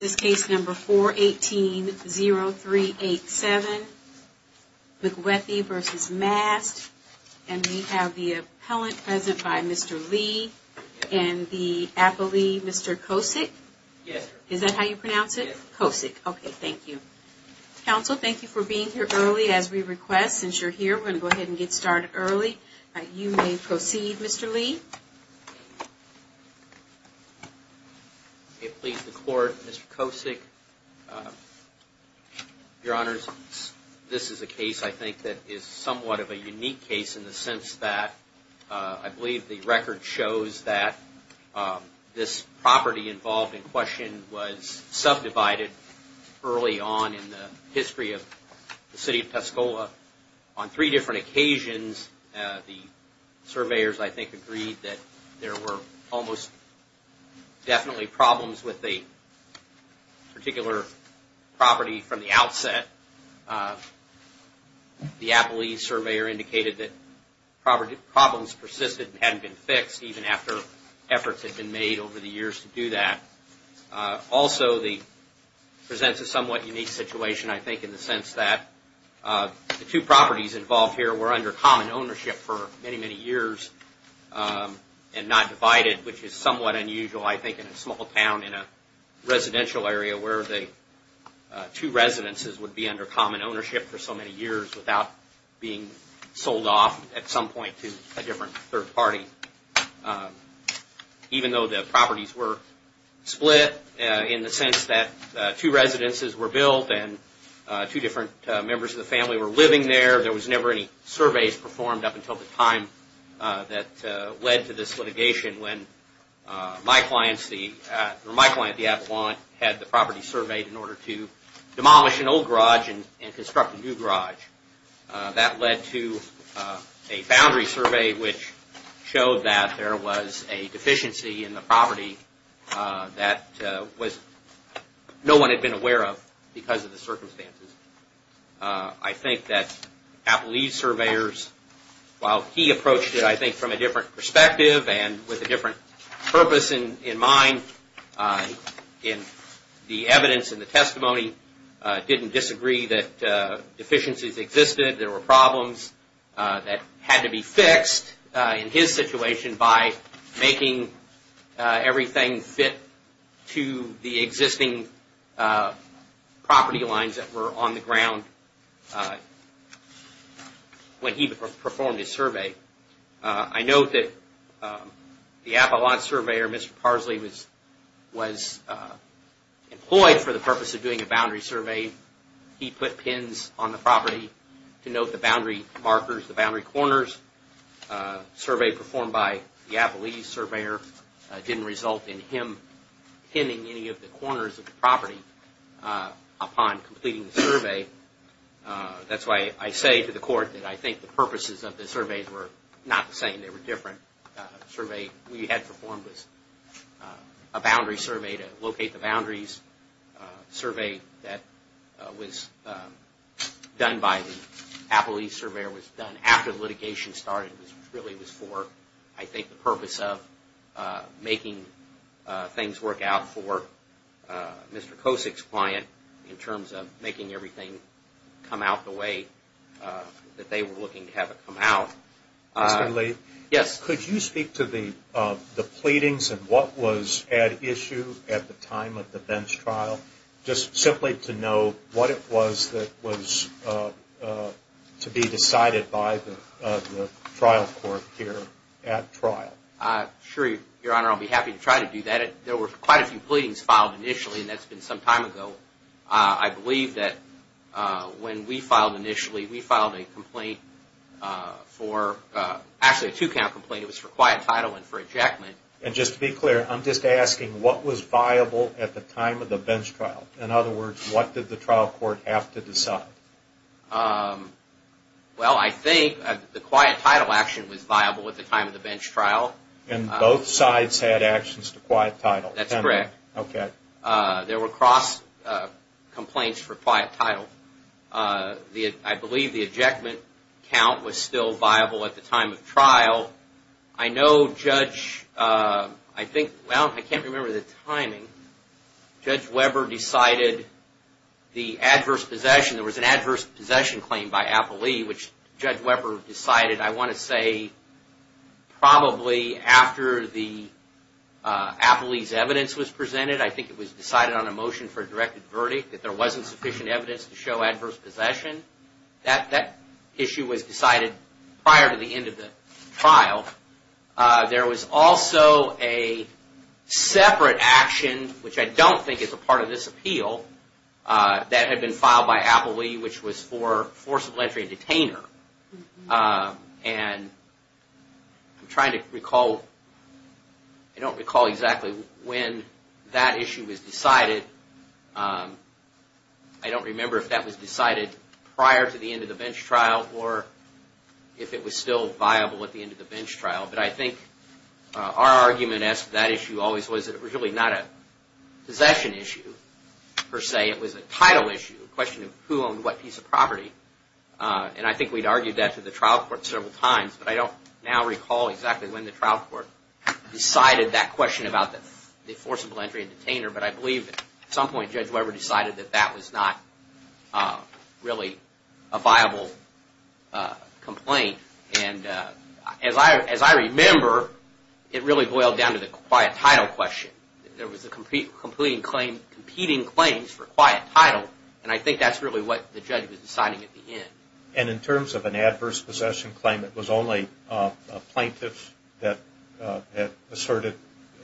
This case number 418-0387, McWethy v. Mast, and we have the appellant present by Mr. Lee and the appellee, Mr. Kosick. Yes, sir. Is that how you pronounce it? Kosick. Okay, thank you. Counsel, thank you for being here early as we request. Since you're here, we're going to go ahead and get started early. You may proceed, Mr. Lee. Okay, please, the court. Mr. Kosick, your honors, this is a case, I think, that is somewhat of a unique case in the sense that I believe the record shows that this property involved in question was subdivided early on in the history of the city of Tuscola on three different occasions. The surveyors, I think, agreed that there were almost definitely problems with the particular property from the outset. The appellee surveyor indicated that problems persisted and hadn't been fixed even after efforts had been made over the years to do that. Also, it presents a somewhat unique situation, I think, in the sense that the two properties involved here were under common ownership for many, many years and not divided, which is somewhat unusual, I think, in a small town in a residential area where the two residences would be under common ownership for so many years without being sold off at some point to a different third party. Even though the properties were split in the sense that two residences were built and two different members of the family were living there, there was never any surveys performed up until the time that led to this litigation when my client, the appellant, had the property surveyed in order to demolish an old garage and construct a new garage. That led to a boundary survey which showed that there was a deficiency in the property that no one had been aware of because of the circumstances. I think that appellee surveyors, while he approached it, I think, from a different perspective and with a different purpose in mind, the evidence and the testimony didn't disagree that deficiencies existed. There were problems that had to be fixed in his situation by making everything fit to the existing property lines that were on the ground when he performed his survey. I note that the appellant surveyor, Mr. Parsley, was employed for the purpose of doing a boundary survey. He put pins on the property to note the boundary markers, the boundary corners. Survey performed by the appellee surveyor didn't result in him pinning any of the corners of the property upon completing the survey. That's why I say to the court that I think the purposes of the surveys were not the same. They were different. The survey we had performed was a boundary survey to locate the boundaries. The survey that was done by the appellee surveyor was done after litigation started. It really was for, I think, the purpose of making things work out for Mr. Kosick's client in terms of making everything come out the way that they were looking to have it come out. Mr. Lee? Yes. Could you speak to the pleadings and what was at issue at the time of the bench trial, just simply to know what it was that was to be decided by the trial court here at trial? Sure, Your Honor. I'll be happy to try to do that. There were quite a few pleadings filed initially, and that's been some time ago. I believe that when we filed initially, we filed a complaint for, actually a two-count complaint. It was for quiet title and for ejectment. And just to be clear, I'm just asking what was viable at the time of the bench trial? In other words, what did the trial court have to decide? Well, I think the quiet title action was viable at the time of the bench trial. And both sides had actions to quiet title? That's correct. Okay. There were cross complaints for quiet title. I believe the ejectment count was still viable at the time of trial. Well, I know Judge, I think, well, I can't remember the timing. Judge Weber decided the adverse possession, there was an adverse possession claim by Applee, which Judge Weber decided, I want to say, probably after the Applee's evidence was presented. I think it was decided on a motion for a directed verdict that there wasn't sufficient evidence to show adverse possession. That issue was decided prior to the end of the trial. There was also a separate action, which I don't think is a part of this appeal, that had been filed by Applee, which was for forcible entry and detainer. And I'm trying to recall, I don't recall exactly when that issue was decided. I don't remember if that was decided prior to the end of the bench trial or if it was still viable at the end of the bench trial. But I think our argument as to that issue always was that it was really not a possession issue, per se. It was a title issue, a question of who owned what piece of property. And I think we'd argued that to the trial court several times, but I don't now recall exactly when the trial court decided that question about the forcible entry and detainer. But I believe at some point Judge Weber decided that that was not really a viable complaint. And as I remember, it really boiled down to the quiet title question. There was a competing claims for quiet title, and I think that's really what the judge was deciding at the end. And in terms of an adverse possession claim, it was only a plaintiff that asserted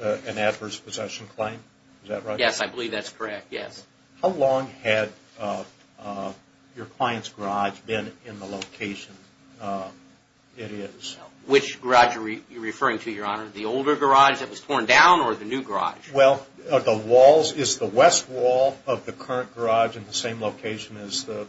an adverse possession claim? Is that right? Yes, I believe that's correct. Yes. How long had your client's garage been in the location it is? Which garage are you referring to, Your Honor? The older garage that was torn down or the new garage? Well, the walls, is the west wall of the current garage in the same location as the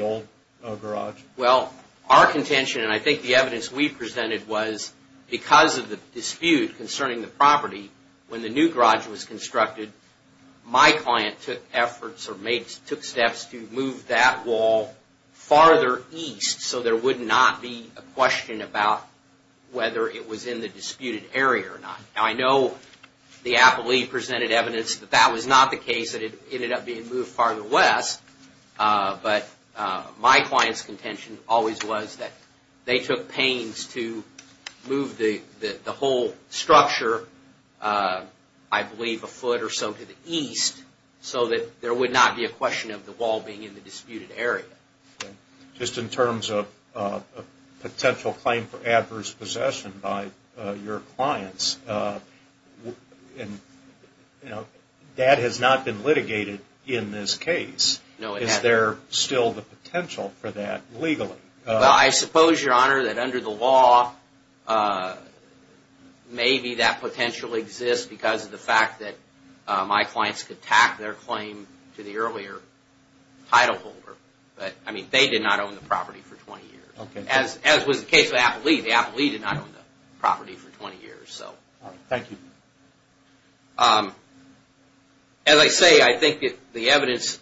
old garage? Well, our contention, and I think the evidence we presented was because of the dispute concerning the property, when the new garage was constructed, my client took efforts or took steps to move that wall farther east so there would not be a question about whether it was in the disputed area or not. Now, I know the appellee presented evidence that that was not the case, that it ended up being moved farther west, but my client's contention always was that they took pains to move the whole structure, I believe, a foot or so to the east so that there would not be a question of the wall being in the disputed area. Just in terms of potential claim for adverse possession by your clients, that has not been litigated in this case. No, it hasn't. Is there still the potential for that legally? Well, I suppose, Your Honor, that under the law, maybe that potential exists because of the fact that my clients could tack their claim to the earlier title holder. But, I mean, they did not own the property for 20 years. As was the case of the appellee, the appellee did not own the property for 20 years. All right. Thank you. As I say, I think the evidence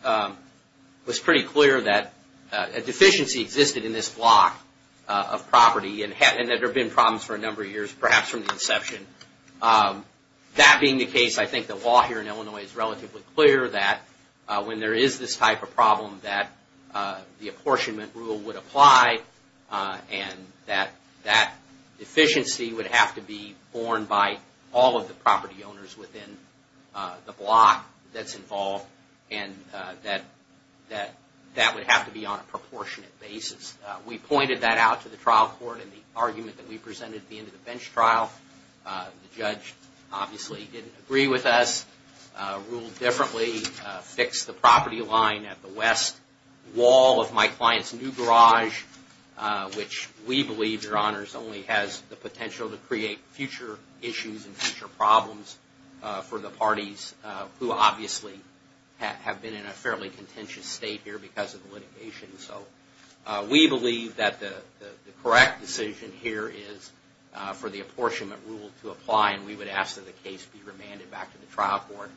was pretty clear that a deficiency existed in this block of property and that there have been problems for a number of years, perhaps from the inception. That being the case, I think the law here in Illinois is relatively clear that when there is this type of problem, that the apportionment rule would apply and that that deficiency would have to be borne by all of the property owners within the block that's involved and that that would have to be on a proportionate basis. We pointed that out to the trial court in the argument that we presented at the end of the bench trial. The judge obviously didn't agree with us, ruled differently, fixed the property line at the west wall of my client's new garage, which we believe, Your Honors, only has the potential to create future issues and future problems for the parties who obviously have been in a fairly contentious state here because of the litigation. So we believe that the correct decision here is for the apportionment rule to apply and we would ask that the case be remanded back to the trial court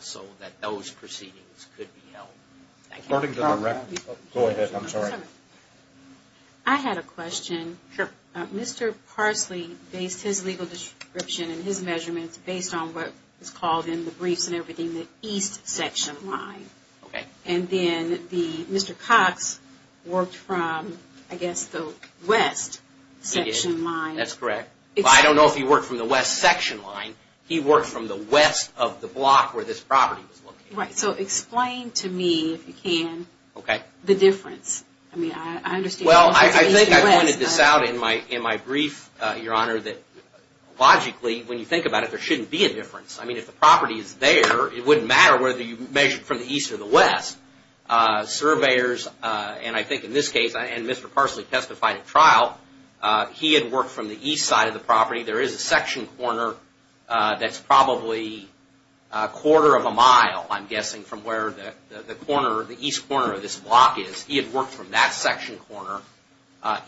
so that those proceedings could be held. I had a question. Sure. Mr. Parsley based his legal description and his measurements based on what was called in the briefs and everything, the east section line. Okay. And then Mr. Cox worked from, I guess, the west section line. He did. That's correct. I don't know if he worked from the west section line. He worked from the west of the block where this property was located. Right. So explain to me, if you can, the difference. Okay. I mean, I understand. Well, I think I pointed this out in my brief, Your Honor, that logically, when you think about it, there shouldn't be a difference. I mean, if the property is there, it wouldn't matter whether you measured from the east or the west. Surveyors, and I think in this case, and Mr. Parsley testified at trial, he had worked from the east side of the property. There is a section corner that's probably a quarter of a mile, I'm guessing, from where the east corner of this block is. He had worked from that section corner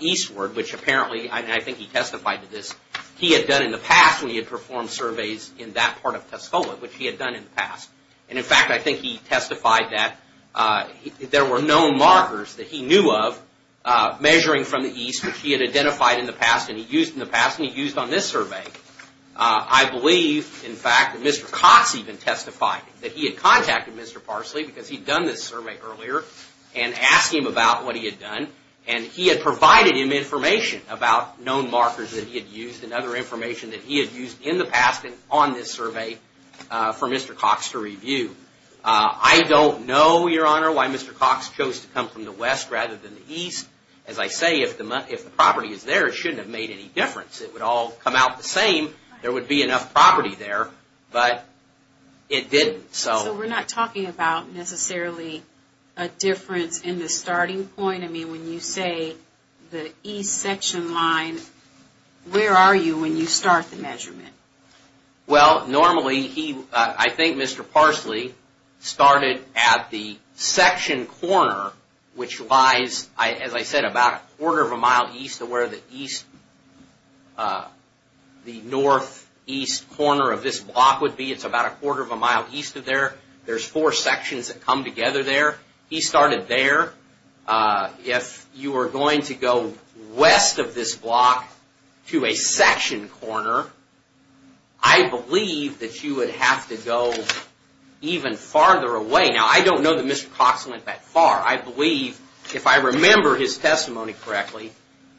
eastward, which apparently, and I think he testified to this, he had done in the past when he had performed surveys in that part of Tuscola, which he had done in the past. And, in fact, I think he testified that there were known markers that he knew of measuring from the east, which he had identified in the past and he used in the past and he used on this survey. I believe, in fact, that Mr. Cotts even testified that he had contacted Mr. Parsley, because he'd done this survey earlier, and asked him about what he had done, and he had provided him information about known markers that he had used and other information that he had used in the past and on this survey for Mr. Cotts to review. I don't know, Your Honor, why Mr. Cotts chose to come from the west rather than the east. As I say, if the property is there, it shouldn't have made any difference. It would all come out the same. There would be enough property there, but it didn't. So we're not talking about necessarily a difference in the starting point? I mean, when you say the east section line, where are you when you start the measurement? Well, normally, I think Mr. Parsley started at the section corner, which lies, as I said, about a quarter of a mile east of where the northeast corner of this block would be. It's about a quarter of a mile east of there. There's four sections that come together there. He started there. If you were going to go west of this block to a section corner, I believe that you would have to go even farther away. Now, I don't know that Mr. Cotts went that far. I believe, if I remember his testimony correctly,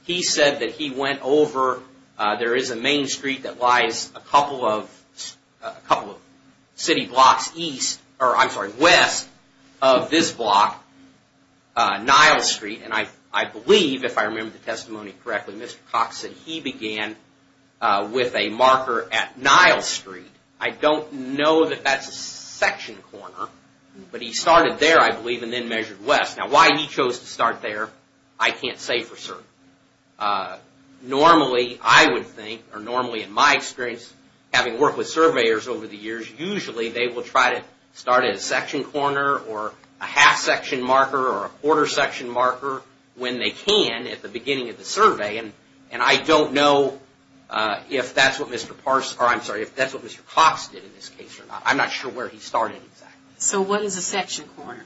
he said that he went over, there is a main street that lies a couple of city blocks west of this block, Nile Street. And I believe, if I remember the testimony correctly, Mr. Cotts said he began with a marker at Nile Street. I don't know that that's a section corner, but he started there, I believe, and then measured west. Now, why he chose to start there, I can't say for certain. Normally, I would think, or normally in my experience, having worked with surveyors over the years, usually they will try to start at a section corner or a half section marker or a quarter section marker when they can at the beginning of the survey. And I don't know if that's what Mr. Parsley, or I'm sorry, if that's what Mr. Cotts did in this case or not. I'm not sure where he started exactly. So what is a section corner?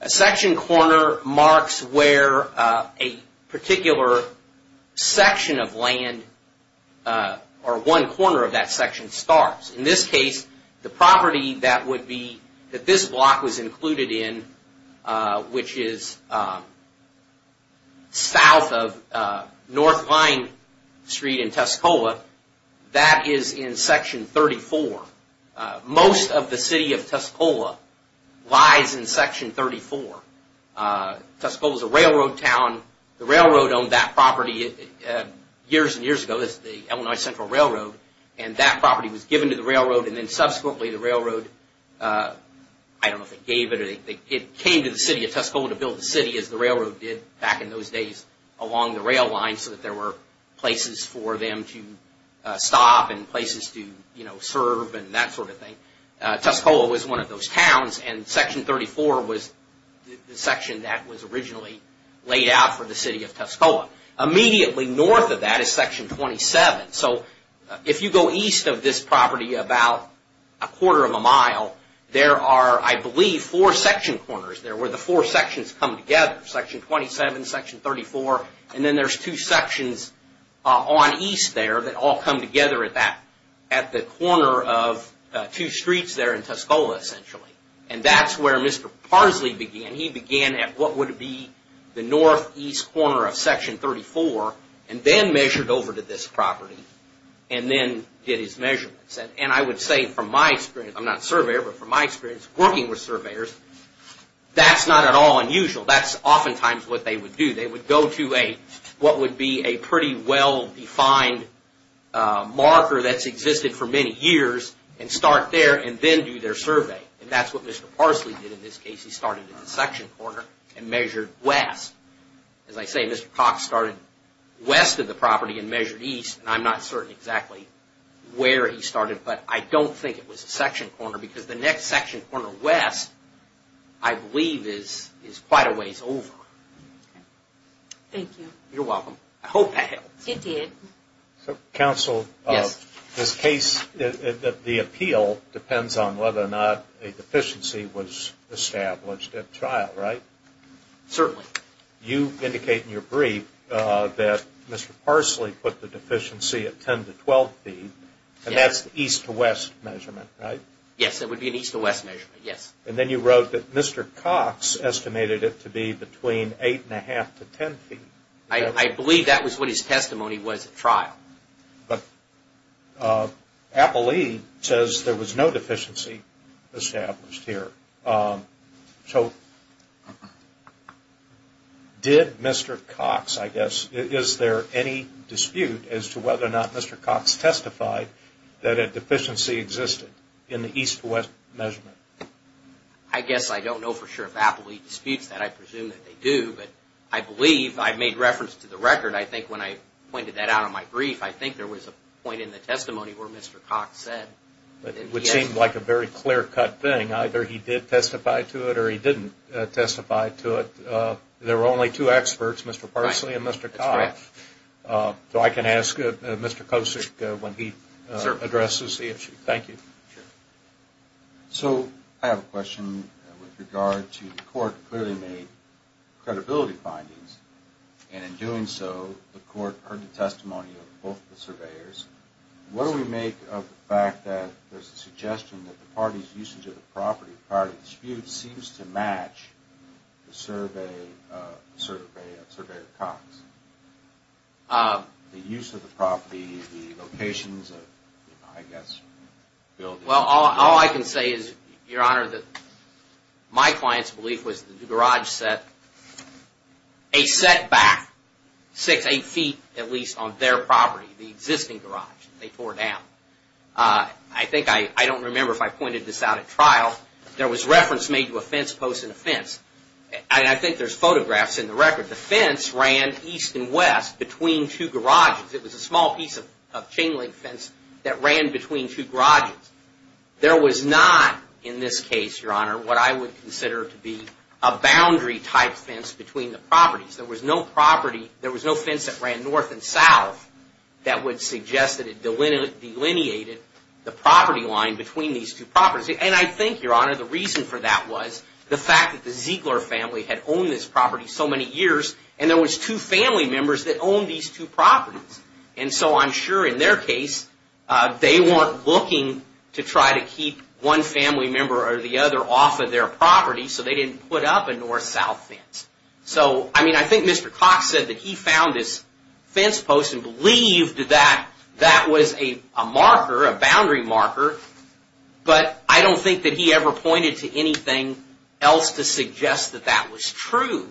A section corner marks where a particular section of land or one corner of that section starts. In this case, the property that would be, that this block was included in, which is south of North Vine Street in Tuscola, that is in Section 34. Most of the city of Tuscola lies in Section 34. Tuscola is a railroad town. The railroad owned that property years and years ago. This is the Illinois Central Railroad, and that property was given to the railroad, and then subsequently the railroad, I don't know if they gave it, it came to the city of Tuscola to build the city as the railroad did back in those days along the rail line so that there were places for them to stop and places to serve and that sort of thing. Tuscola was one of those towns, and Section 34 was the section that was originally laid out for the city of Tuscola. Immediately north of that is Section 27. So if you go east of this property about a quarter of a mile, there are, I believe, four section corners there where the four sections come together. Section 27, Section 34, and then there's two sections on east there that all come together at the corner of two streets there in Tuscola, essentially. And that's where Mr. Parsley began. He began at what would be the northeast corner of Section 34 and then measured over to this property and then did his measurements. And I would say from my experience, I'm not a surveyor, but from my experience working with surveyors, that's not at all unusual. That's oftentimes what they would do. They would go to what would be a pretty well-defined marker that's existed for many years and start there and then do their survey. And that's what Mr. Parsley did in this case. He started at the section corner and measured west. As I say, Mr. Cox started west of the property and measured east, and I'm not certain exactly where he started, but I don't think it was a section corner because the next section corner west, I believe, is quite a ways over. Thank you. You're welcome. I hope that helps. It did. Counsel, this case, the appeal depends on whether or not a deficiency was established at trial, right? Certainly. You indicate in your brief that Mr. Parsley put the deficiency at 10 to 12 feet, and that's the east-to-west measurement, right? Yes, it would be an east-to-west measurement, yes. And then you wrote that Mr. Cox estimated it to be between 8 1⁄2 to 10 feet. I believe that was what his testimony was at trial. But Appalee says there was no deficiency established here. So did Mr. Cox, I guess, is there any dispute as to whether or not Mr. Cox testified that a deficiency existed in the east-to-west measurement? I guess I don't know for sure if Appalee disputes that. I presume that they do, but I believe I made reference to the record. I think when I pointed that out in my brief, I think there was a point in the testimony where Mr. Cox said. It would seem like a very clear-cut thing. Either he did testify to it or he didn't testify to it. There were only two experts, Mr. Parsley and Mr. Cox. So I can ask Mr. Kosick when he addresses the issue. Thank you. So I have a question with regard to the court clearly made credibility findings, and in doing so the court heard the testimony of both the surveyors. What do we make of the fact that there's a suggestion that the party's usage of the property prior to the dispute seems to match the survey of Cox? The use of the property, the locations of, I guess, buildings. Well, all I can say is, Your Honor, that my client's belief was that the garage set a setback six, eight feet, at least, on their property, the existing garage. They tore it down. I think I don't remember if I pointed this out at trial. There was reference made to a fence post and a fence, and I think there's photographs in the record. The fence ran east and west between two garages. It was a small piece of chain-link fence that ran between two garages. There was not, in this case, Your Honor, what I would consider to be a boundary-type fence between the properties. There was no property. There was no fence that ran north and south that would suggest that it delineated the property line between these two properties. And I think, Your Honor, the reason for that was the fact that the Ziegler family had owned this property so many years, and there was two family members that owned these two properties. And so I'm sure, in their case, they weren't looking to try to keep one family member or the other off of their property, so they didn't put up a north-south fence. So, I mean, I think Mr. Cox said that he found this fence post and believed that that was a marker, a boundary marker, but I don't think that he ever pointed to anything else to suggest that that was true.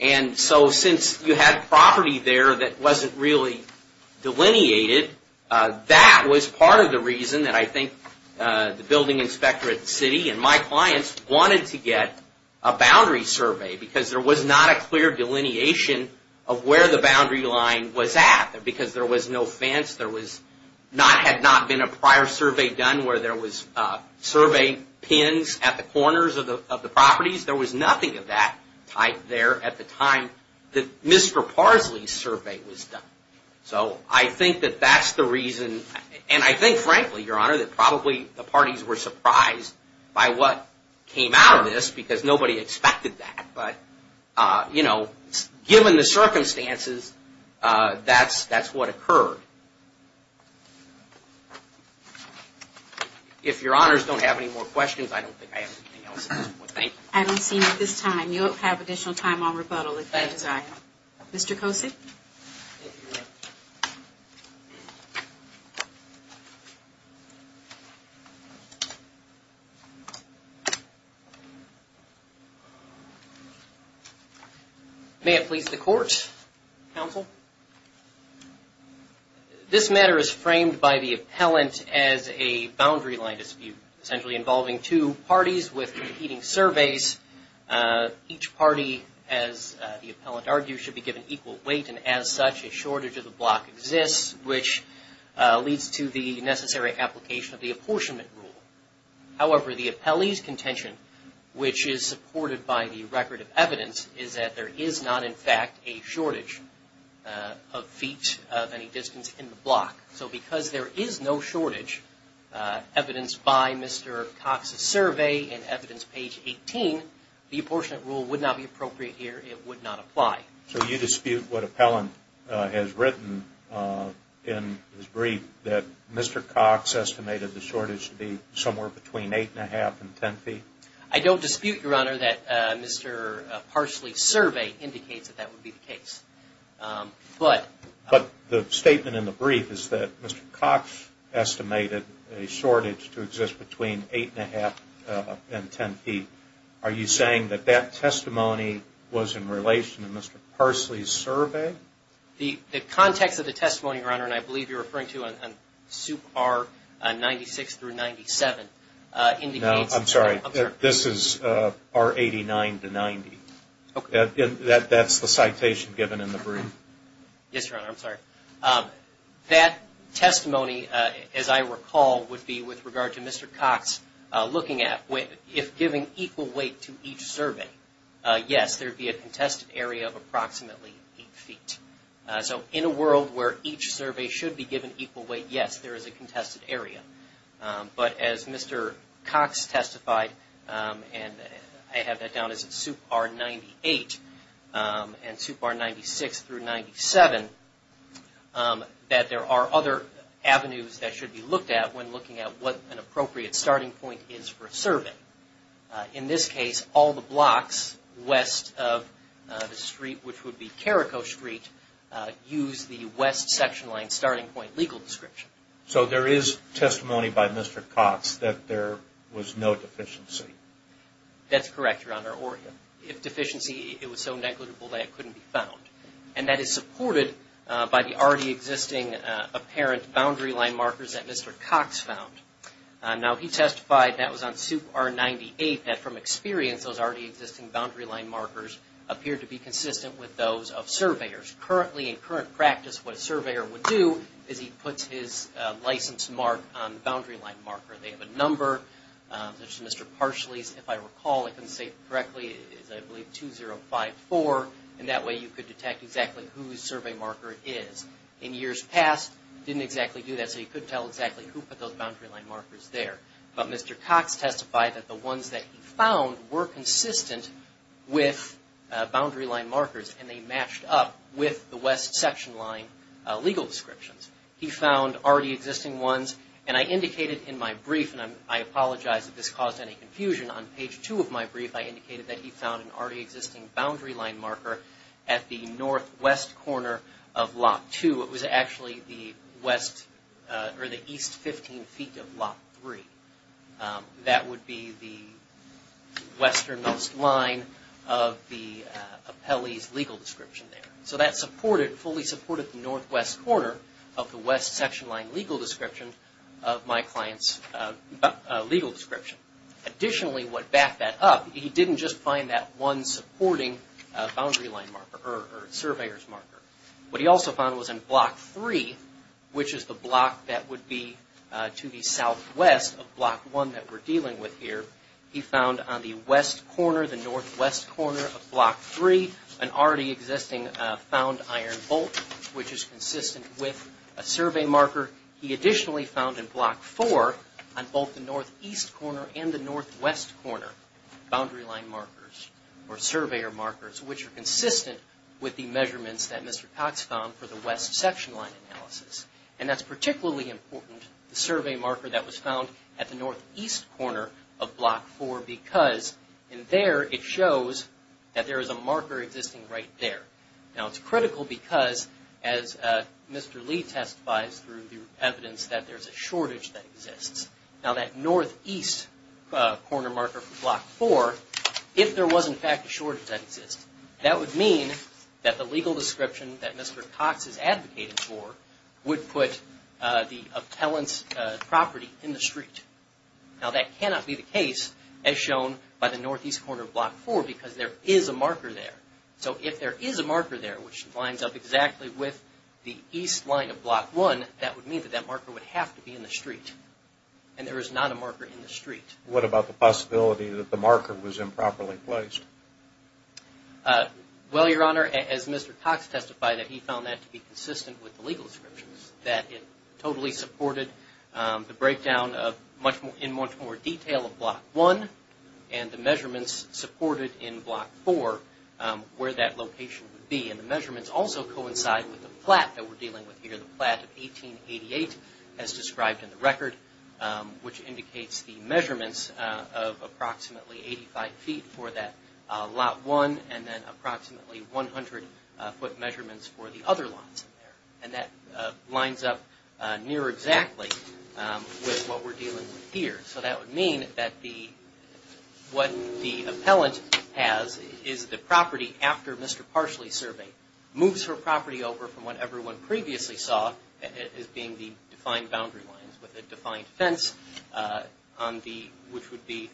And so, since you had property there that wasn't really delineated, that was part of the reason that I think the building inspector at the city and my clients wanted to get a boundary survey, because there was not a clear delineation of where the boundary line was at, because there was no fence. There had not been a prior survey done where there was survey pins at the corners of the properties. There was nothing of that type there at the time that Mr. Parsley's survey was done. So I think that that's the reason, and I think, frankly, Your Honor, that probably the parties were surprised by what came out of this, because nobody expected that, but, you know, given the circumstances, that's what occurred. If Your Honors don't have any more questions, I don't think I have anything else at this point. Thank you. I don't see any at this time. You will have additional time on rebuttal if you desire. Thank you. Mr. Kosey? May it please the Court, Counsel? This matter is framed by the appellant as a boundary line dispute, essentially involving two parties with competing surveys. Each party, as the appellant argues, should be given equal weight, and as such, a shortage of the block exists, which leads to the necessary application of the apportionment rule. However, the appellee's contention, which is supported by the record of evidence, is that there is not, in fact, a shortage of feet of any distance in the block. So because there is no shortage, evidenced by Mr. Cox's survey and evidence page 18, the apportionment rule would not be appropriate here. It would not apply. So you dispute what appellant has written in his brief, that Mr. Cox estimated the shortage to be somewhere between eight and a half and ten feet? I don't dispute, Your Honor, that Mr. Parsley's survey indicates that that would be the case. But the statement in the brief is that Mr. Cox estimated a shortage to exist between eight and a half and ten feet. Are you saying that that testimony was in relation to Mr. Parsley's survey? The context of the testimony, Your Honor, and I believe you're referring to on Sup. R 96 through 97, indicates... No, I'm sorry. This is R 89 to 90. That's the citation given in the brief. Yes, Your Honor, I'm sorry. That testimony, as I recall, would be with regard to Mr. Cox looking at if giving equal weight to each survey, yes, there would be a contested area of approximately eight feet. So in a world where each survey should be given equal weight, yes, there is a contested area. But as Mr. Cox testified, and I have that down as Sup. R 98 and Sup. R 96 through 97, that there are other avenues that should be looked at when looking at what an appropriate starting point is for a survey. In this case, all the blocks west of the street, which would be Carrico Street, use the west section line starting point legal description. So there is testimony by Mr. Cox that there was no deficiency. That's correct, Your Honor, or if deficiency, it was so negligible that it couldn't be found. And that is supported by the already existing apparent boundary line markers that Mr. Cox found. Now, he testified that was on Sup. R 98, that from experience, those already existing boundary line markers appeared to be consistent with those of surveyors. Which currently, in current practice, what a surveyor would do is he puts his license mark on the boundary line marker. They have a number, such as Mr. Parsley's, if I recall, I couldn't say it correctly, is I believe 2054, and that way you could detect exactly whose survey marker it is. In years past, didn't exactly do that, so you couldn't tell exactly who put those boundary line markers there. But Mr. Cox testified that the ones that he found were consistent with boundary line markers, and they matched up with the West section line legal descriptions. He found already existing ones, and I indicated in my brief, and I apologize if this caused any confusion, on page 2 of my brief, I indicated that he found an already existing boundary line marker at the northwest corner of Lot 2. It was actually the east 15 feet of Lot 3. That would be the westernmost line of the appellee's legal description there. So that fully supported the northwest corner of the west section line legal description of my client's legal description. Additionally, what backed that up, he didn't just find that one supporting boundary line marker, or surveyor's marker. What he also found was in Block 3, which is the block that would be to the southwest of Block 1 that we're dealing with here, he found on the west corner, the northwest corner of Block 3, an already existing found iron bolt, which is consistent with a survey marker. He additionally found in Block 4, on both the northeast corner and the northwest corner, boundary line markers, or surveyor markers, which are consistent with the measurements that Mr. Cox found for the west section line analysis. And that's particularly important, the survey marker that was found at the northeast corner of Block 4, because in there it shows that there is a marker existing right there. Now it's critical because, as Mr. Lee testifies through the evidence, that there's a shortage that exists. Now that northeast corner marker for Block 4, if there was in fact a shortage that exists, that would mean that the legal description that Mr. Cox is advocating for would put the appellant's property in the street. Now that cannot be the case, as shown by the northeast corner of Block 4, because there is a marker there. So if there is a marker there, which lines up exactly with the east line of Block 1, that would mean that that marker would have to be in the street. And there is not a marker in the street. What about the possibility that the marker was improperly placed? Well, Your Honor, as Mr. Cox testified, he found that to be consistent with the legal descriptions, that it totally supported the breakdown in much more detail of Block 1, and the measurements supported in Block 4 where that location would be. And the measurements also coincide with the plat that we're dealing with here, the plat of 1888, as described in the record, which indicates the measurements of approximately 85 feet for that Lot 1, and then approximately 100 foot measurements for the other lots in there. And that lines up near exactly with what we're dealing with here. So that would mean that what the appellant has is the property after Mr. Parsley's survey, moves her property over from what everyone previously saw as being the defined boundary lines, with a defined fence which would be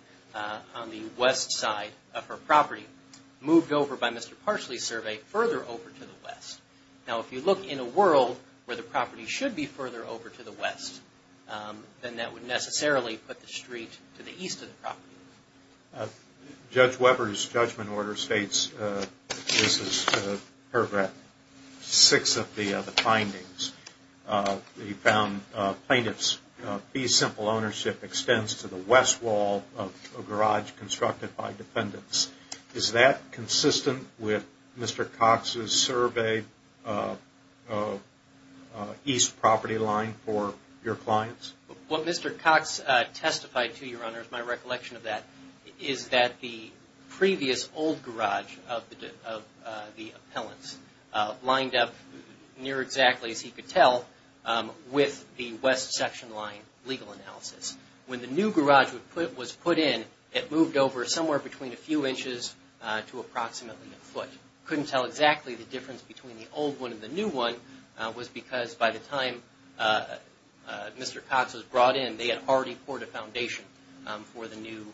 on the west side of her property, moved over by Mr. Parsley's survey further over to the west. Now if you look in a world where the property should be further over to the west, then that would necessarily put the street to the east of the property. Judge Weber's judgment order states, this is paragraph 6 of the findings, he found plaintiff's fee simple ownership extends to the west wall of a garage constructed by defendants. Is that consistent with Mr. Cox's survey east property line for your clients? What Mr. Cox testified to, Your Honor, is my recollection of that, is that the previous old garage of the appellants lined up near exactly, as he could tell, with the west section line legal analysis. When the new garage was put in, it moved over somewhere between a few inches to approximately a foot. Couldn't tell exactly the difference between the old one and the new one, was because by the time Mr. Cox was brought in, they had already poured a foundation for the new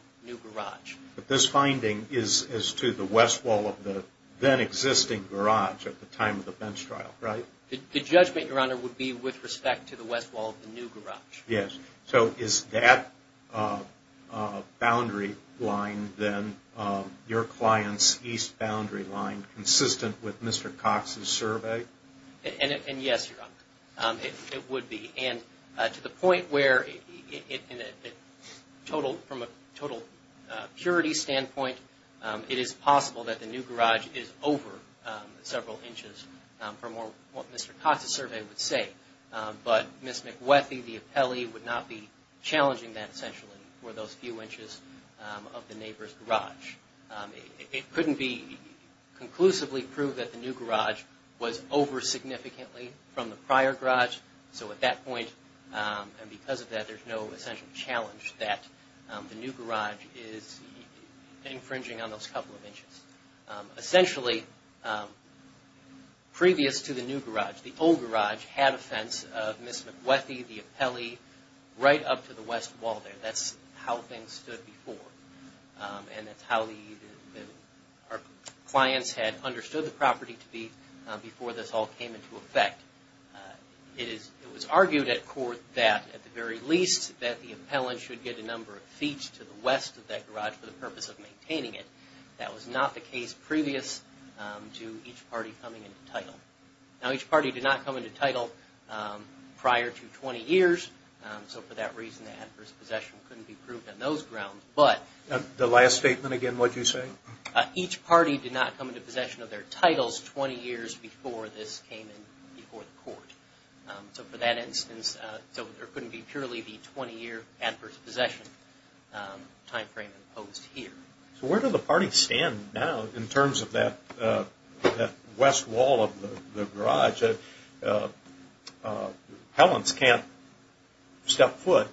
garage. But this finding is to the west wall of the then existing garage at the time of the bench trial, right? The judgment, Your Honor, would be with respect to the west wall of the new garage. Yes. So is that boundary line then, your client's east boundary line, consistent with Mr. Cox's survey? And yes, Your Honor, it would be. And to the point where from a total purity standpoint, it is possible that the new garage is over several inches from what Mr. Cox's survey would say. But Ms. McWethy, the appellee, would not be challenging that, essentially, for those few inches of the neighbor's garage. It couldn't be conclusively proved that the new garage was over significantly from the prior garage. So at that point, and because of that, there's no essential challenge that the new garage is infringing on those couple of inches. Essentially, previous to the new garage, the old garage had a fence of Ms. McWethy, the appellee, right up to the west wall there. That's how things stood before. And that's how our clients had understood the property to be before this all came into effect. It was argued at court that, at the very least, that the appellant should get a number of feet to the west of that garage for the purpose of maintaining it. That was not the case previous to each party coming into title. Now, each party did not come into title prior to 20 years. So for that reason, the adverse possession couldn't be proved on those grounds. The last statement again, what'd you say? Each party did not come into possession of their titles 20 years before this came in before the court. So for that instance, there couldn't be purely the 20-year adverse possession timeframe imposed here. So where do the parties stand now in terms of that west wall of the garage? Appellants can't step foot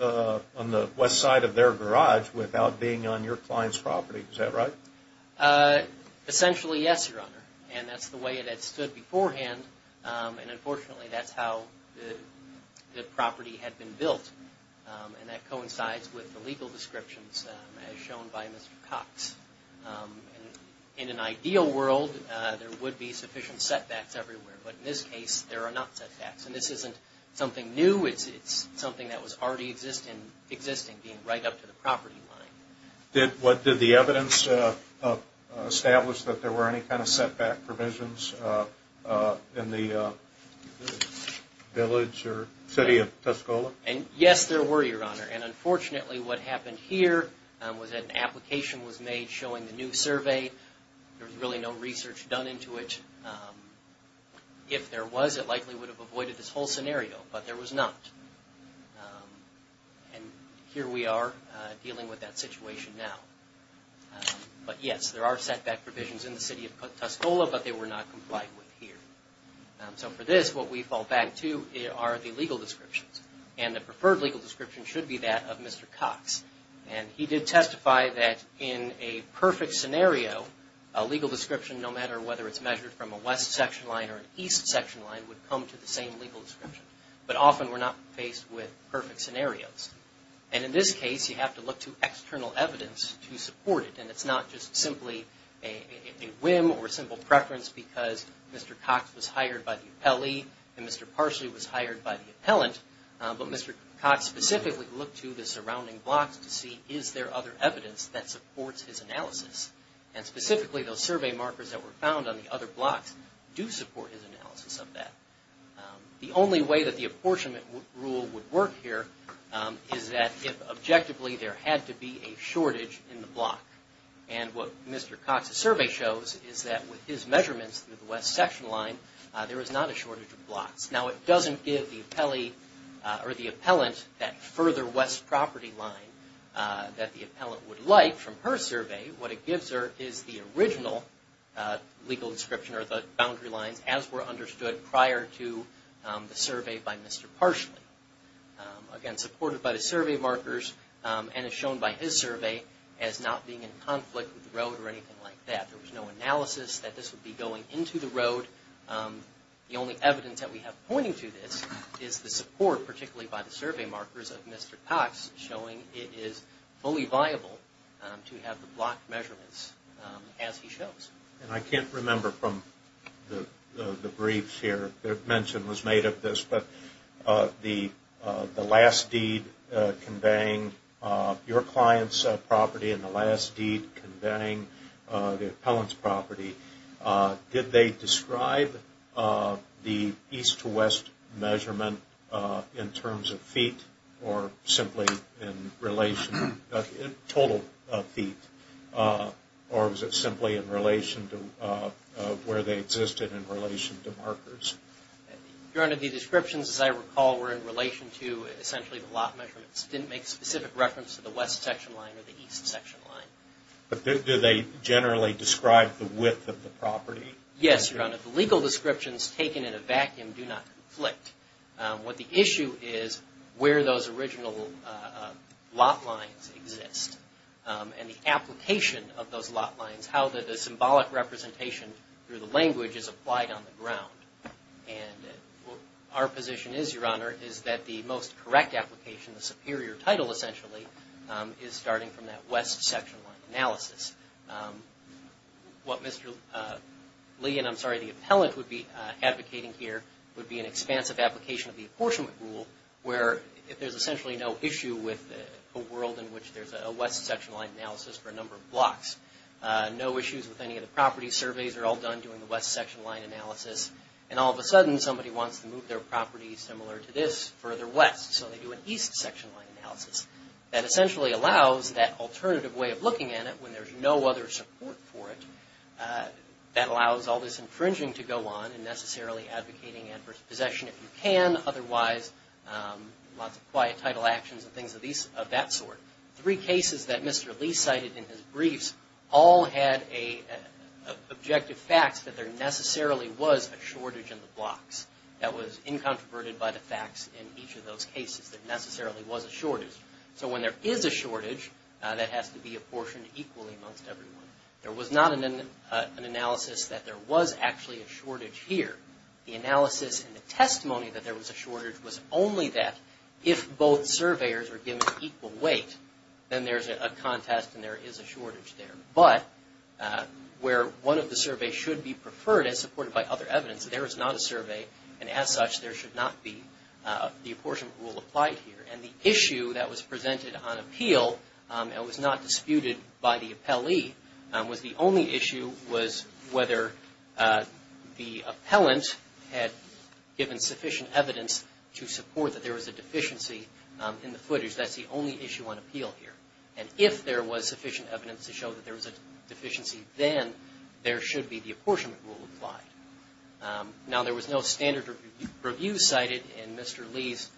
on the west side of their garage without being on your client's property. Is that right? Essentially, yes, Your Honor. And that's the way it had stood beforehand. And unfortunately, that's how the property had been built. And that coincides with the legal descriptions as shown by Mr. Cox. In an ideal world, there would be sufficient setbacks everywhere. But in this case, there are not setbacks. And this isn't something new. It's something that was already existing, being right up to the property line. Did the evidence establish that there were any kind of setback provisions in the village or city of Tuscola? And yes, there were, Your Honor. And unfortunately, what happened here was that an application was made showing the new survey. There was really no research done into it. If there was, it likely would have avoided this whole scenario. But there was not. And here we are dealing with that situation now. But yes, there are setback provisions in the city of Tuscola, but they were not complied with here. So for this, what we fall back to are the legal descriptions. And the preferred legal description should be that of Mr. Cox. And he did testify that in a perfect scenario, a legal description, no matter whether it's measured from a west section line or an east section line, would come to the same legal description. But often, we're not faced with perfect scenarios. And in this case, you have to look to external evidence to support it. And it's not just simply a whim or simple preference because Mr. Cox was hired by the appellee and Mr. Parsley was hired by the appellant. But Mr. Cox specifically looked to the surrounding blocks to see, is there other evidence that supports his analysis? And specifically, those survey markers that were found on the other blocks do support his analysis of that. The only way that the apportionment rule would work here is that, if objectively, there had to be a shortage in the block. And what Mr. Cox's survey shows is that with his measurements through the west section line, there is not a shortage of blocks. Now, it doesn't give the appellee or the appellant that further west property line that the appellant would like from her survey. What it gives her is the original legal description or the boundary lines, as were understood prior to the survey by Mr. Parsley. Again, supported by the survey markers and as shown by his survey, as not being in conflict with the road or anything like that. There was no analysis that this would be going into the road. The only evidence that we have pointing to this is the support, particularly by the survey markers of Mr. Cox, showing it is fully viable to have the block measurements as he shows. And I can't remember from the briefs here, the mention was made of this, but the last deed conveying your client's property and the last deed conveying the appellant's property, did they describe the east to west measurement in terms of feet or simply in relation to total feet? Or was it simply in relation to where they existed in relation to markers? Your Honor, the descriptions, as I recall, were in relation to essentially the lot measurements. It didn't make specific reference to the west section line or the east section line. But did they generally describe the width of the property? Yes, Your Honor. The legal descriptions taken in a vacuum do not conflict. What the issue is where those original lot lines exist. And the application of those lot lines, how the symbolic representation through the language is applied on the ground. And our position is, Your Honor, is that the most correct application, the superior title essentially, is starting from that west section line analysis. What Mr. Lee, and I'm sorry, the appellant would be advocating here, would be an expansive application of the apportionment rule, where there's essentially no issue with a world in which there's a west section line analysis for a number of blocks. No issues with any of the property surveys are all done doing the west section line analysis. And all of a sudden somebody wants to move their property similar to this further west, so they do an east section line analysis. That essentially allows that alternative way of looking at it when there's no other support for it. That allows all this infringing to go on and necessarily advocating adverse possession if you can. Otherwise, lots of quiet title actions and things of that sort. Three cases that Mr. Lee cited in his briefs all had objective facts that there necessarily was a shortage in the blocks. That was incontroverted by the facts in each of those cases. There necessarily was a shortage. So when there is a shortage, that has to be apportioned equally amongst everyone. There was not an analysis that there was actually a shortage here. The analysis and the testimony that there was a shortage was only that if both surveyors were given equal weight, then there's a contest and there is a shortage there. But where one of the surveys should be preferred as supported by other evidence, there is not a survey and as such there should not be the apportionment rule applied here. And the issue that was presented on appeal that was not disputed by the appellee was the only issue was whether the appellant had given sufficient evidence to support that there was a deficiency in the footage. That's the only issue on appeal here. And if there was sufficient evidence to show that there was a deficiency, then there should be the apportionment rule applied. Now, there was no standard review cited in Mr. Lee's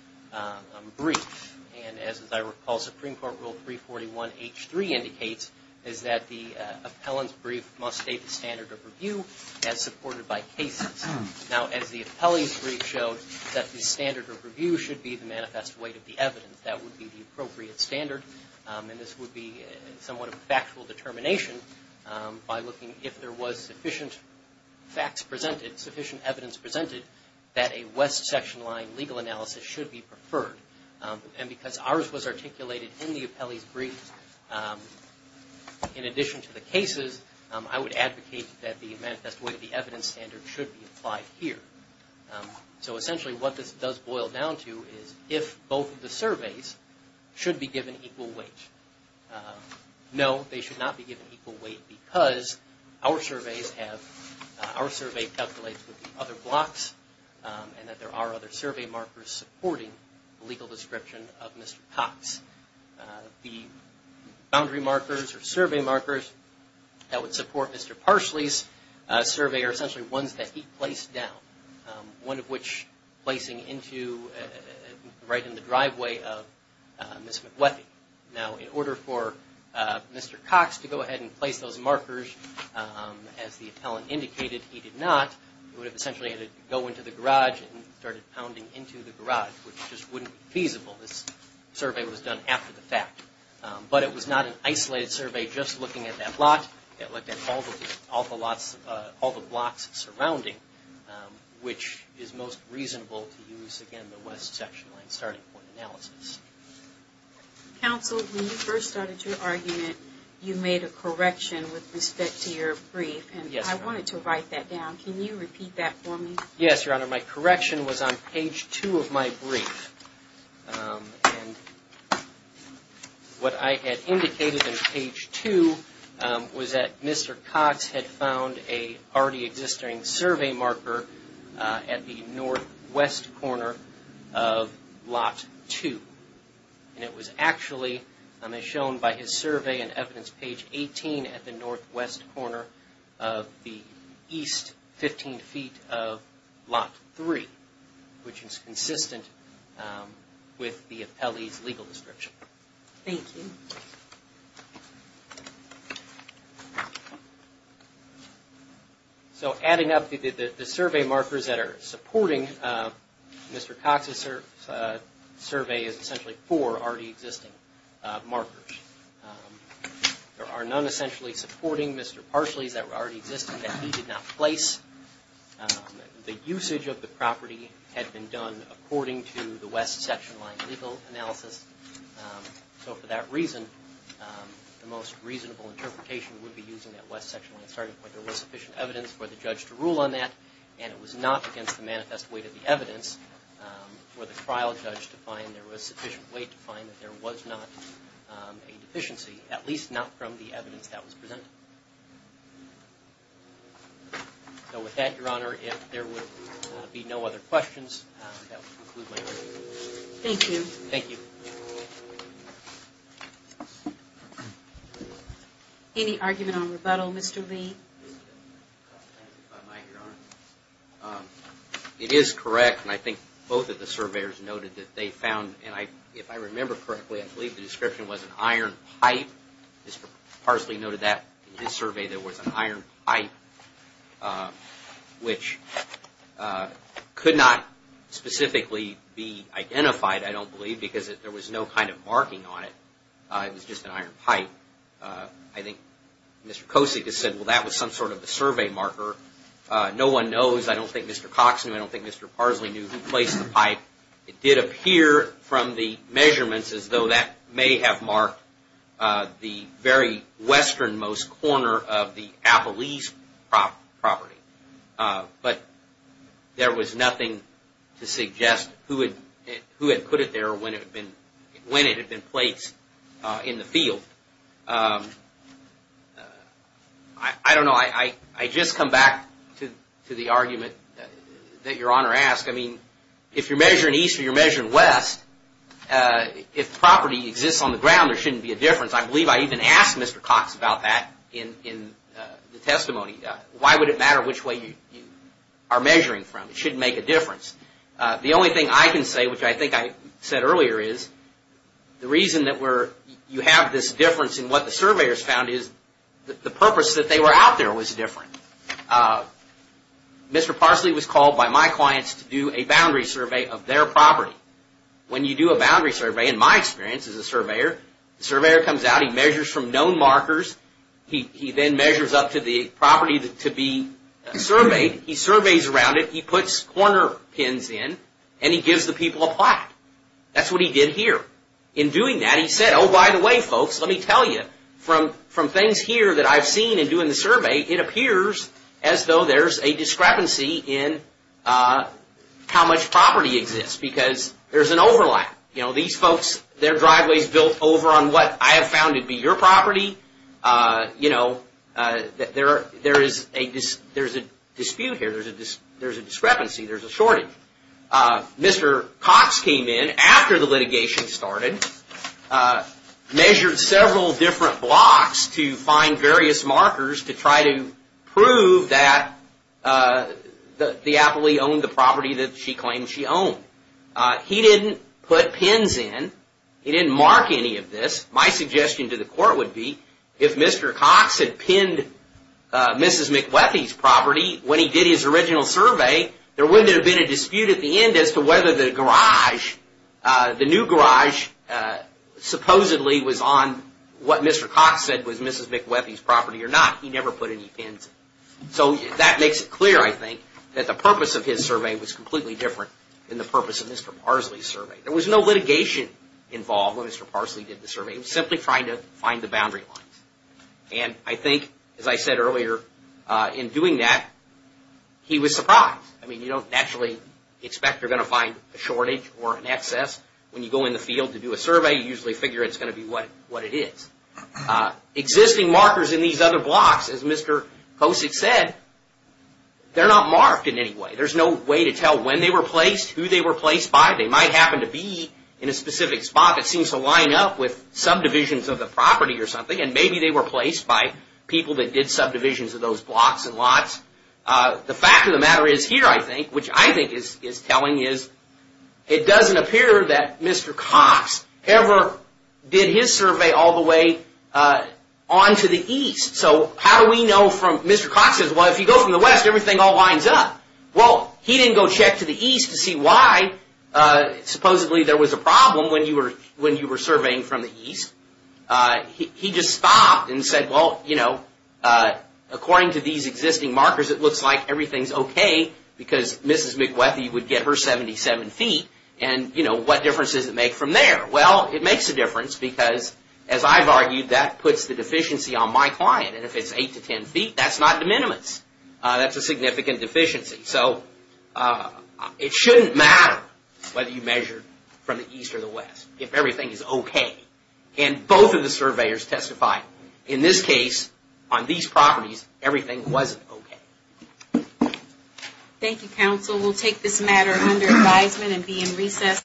brief. And as I recall, Supreme Court Rule 341H3 indicates is that the appellant's brief must state the standard of review as supported by cases. Now, as the appellee's brief showed, that the standard of review should be the manifest weight of the evidence. That would be the appropriate standard. And this would be somewhat of a factual determination by looking if there was sufficient facts presented, sufficient evidence presented, that a West section line legal analysis should be preferred. And because ours was articulated in the appellee's brief, in addition to the cases, I would advocate that the manifest weight of the evidence standard should be applied here. So essentially what this does boil down to is if both of the surveys should be given equal weight. No, they should not be given equal weight because our surveys have, our survey calculates with the other blocks and that there are other survey markers supporting the legal description of Mr. Cox. The boundary markers or survey markers that would support Mr. Parsley's survey are essentially ones that he placed down, one of which placing into right in the driveway of Ms. McWethy. Now, in order for Mr. Cox to go ahead and place those markers, as the appellant indicated he did not, he would have essentially had to go into the garage and started pounding into the garage, which just wouldn't be feasible. This survey was done after the fact. But it was not an isolated survey just looking at that lot. It looked at all the lots, all the blocks surrounding, which is most reasonable to use, again, the West section line starting point analysis. Counsel, when you first started your argument, you made a correction with respect to your brief. Yes, ma'am. I wanted to write that down. Can you repeat that for me? Yes, Your Honor. My correction was on page 2 of my brief. What I had indicated in page 2 was that Mr. Cox had found a already existing survey marker at the northwest corner of lot 2. And it was actually, as shown by his survey and evidence, page 18 at the northwest corner of the east 15 feet of lot 3, which is consistent with the appellee's legal description. Thank you. So adding up the survey markers that are supporting Mr. Cox's survey is essentially four already existing markers. There are none essentially supporting Mr. Parsley's that were already existing that he did not place. The usage of the property had been done according to the West section line legal analysis. So for that reason, the most reasonable interpretation would be using that West section line starting point. There was sufficient evidence for the judge to rule on that, and it was not against the manifest weight of the evidence for the trial judge to find there was sufficient weight to find that there was not a deficiency, at least not from the evidence that was presented. So with that, Your Honor, if there would be no other questions, that would conclude my briefing. Thank you. Thank you. Any argument on rebuttal, Mr. Lee? If I might, Your Honor. It is correct, and I think both of the surveyors noted that they found, and if I remember correctly, I believe the description was an iron pipe. Mr. Parsley noted that in his survey there was an iron pipe, which could not specifically be identified, I don't believe, because there was no kind of marking on it. It was just an iron pipe. I think Mr. Kosick has said, well, that was some sort of a survey marker. No one knows. I don't think Mr. Cox knew. I don't think Mr. Parsley knew who placed the pipe. It did appear from the measurements as though that may have marked the very westernmost corner of the Appalese property, but there was nothing to suggest who had put it there or when it had been placed in the field. I don't know. I just come back to the argument that Your Honor asked. I mean, if you're measuring east or you're measuring west, if property exists on the ground, there shouldn't be a difference. I believe I even asked Mr. Cox about that in the testimony. Why would it matter which way you are measuring from? It shouldn't make a difference. The only thing I can say, which I think I said earlier, is the reason that you have this difference in what the surveyors found is the purpose that they were out there was different. Mr. Parsley was called by my clients to do a boundary survey of their property. When you do a boundary survey, in my experience as a surveyor, the surveyor comes out, he measures from known markers, he then measures up to the property to be surveyed, he surveys around it, he puts corner pins in, and he gives the people a plot. That's what he did here. In doing that, he said, oh, by the way, folks, let me tell you, from things here that I've seen in doing the survey, it appears as though there's a discrepancy in how much property exists because there's an overlap. These folks, their driveway's built over on what I have found to be your property, you know, there is a dispute here. There's a discrepancy. There's a shortage. Mr. Cox came in after the litigation started, measured several different blocks to find various markers to try to prove that the appellee owned the property that she claimed she owned. He didn't put pins in. He didn't mark any of this. My suggestion to the court would be, if Mr. Cox had pinned Mrs. McWethy's property when he did his original survey, there wouldn't have been a dispute at the end as to whether the garage, the new garage, supposedly was on what Mr. Cox said was Mrs. McWethy's property or not. He never put any pins in. So that makes it clear, I think, that the purpose of his survey was completely different than the purpose of Mr. Parsley's survey. There was no litigation involved when Mr. Parsley did the survey. He was simply trying to find the boundary lines. And I think, as I said earlier, in doing that, he was surprised. I mean, you don't naturally expect you're going to find a shortage or an excess. When you go in the field to do a survey, you usually figure it's going to be what it is. Existing markers in these other blocks, as Mr. Kosick said, they're not marked in any way. There's no way to tell when they were placed, who they were placed by. They might happen to be in a specific spot that seems to line up with subdivisions of the property or something, and maybe they were placed by people that did subdivisions of those blocks and lots. The fact of the matter is here, I think, which I think is telling, is it doesn't appear that Mr. Cox ever did his survey all the way on to the east. So how do we know from Mr. Cox's? Well, if you go from the west, everything all lines up. Well, he didn't go check to the east to see why supposedly there was a problem when you were surveying from the east. He just stopped and said, well, you know, according to these existing markers, it looks like everything's okay because Mrs. McWethy would get her 77 feet, and, you know, what difference does it make from there? Well, it makes a difference because, as I've argued, that puts the deficiency on my client, and if it's 8 to 10 feet, that's not de minimis. That's a significant deficiency. So it shouldn't matter whether you measure from the east or the west if everything is okay. And both of the surveyors testified in this case on these properties, everything wasn't okay. Thank you, counsel. We'll take this matter under advisement and be in recess.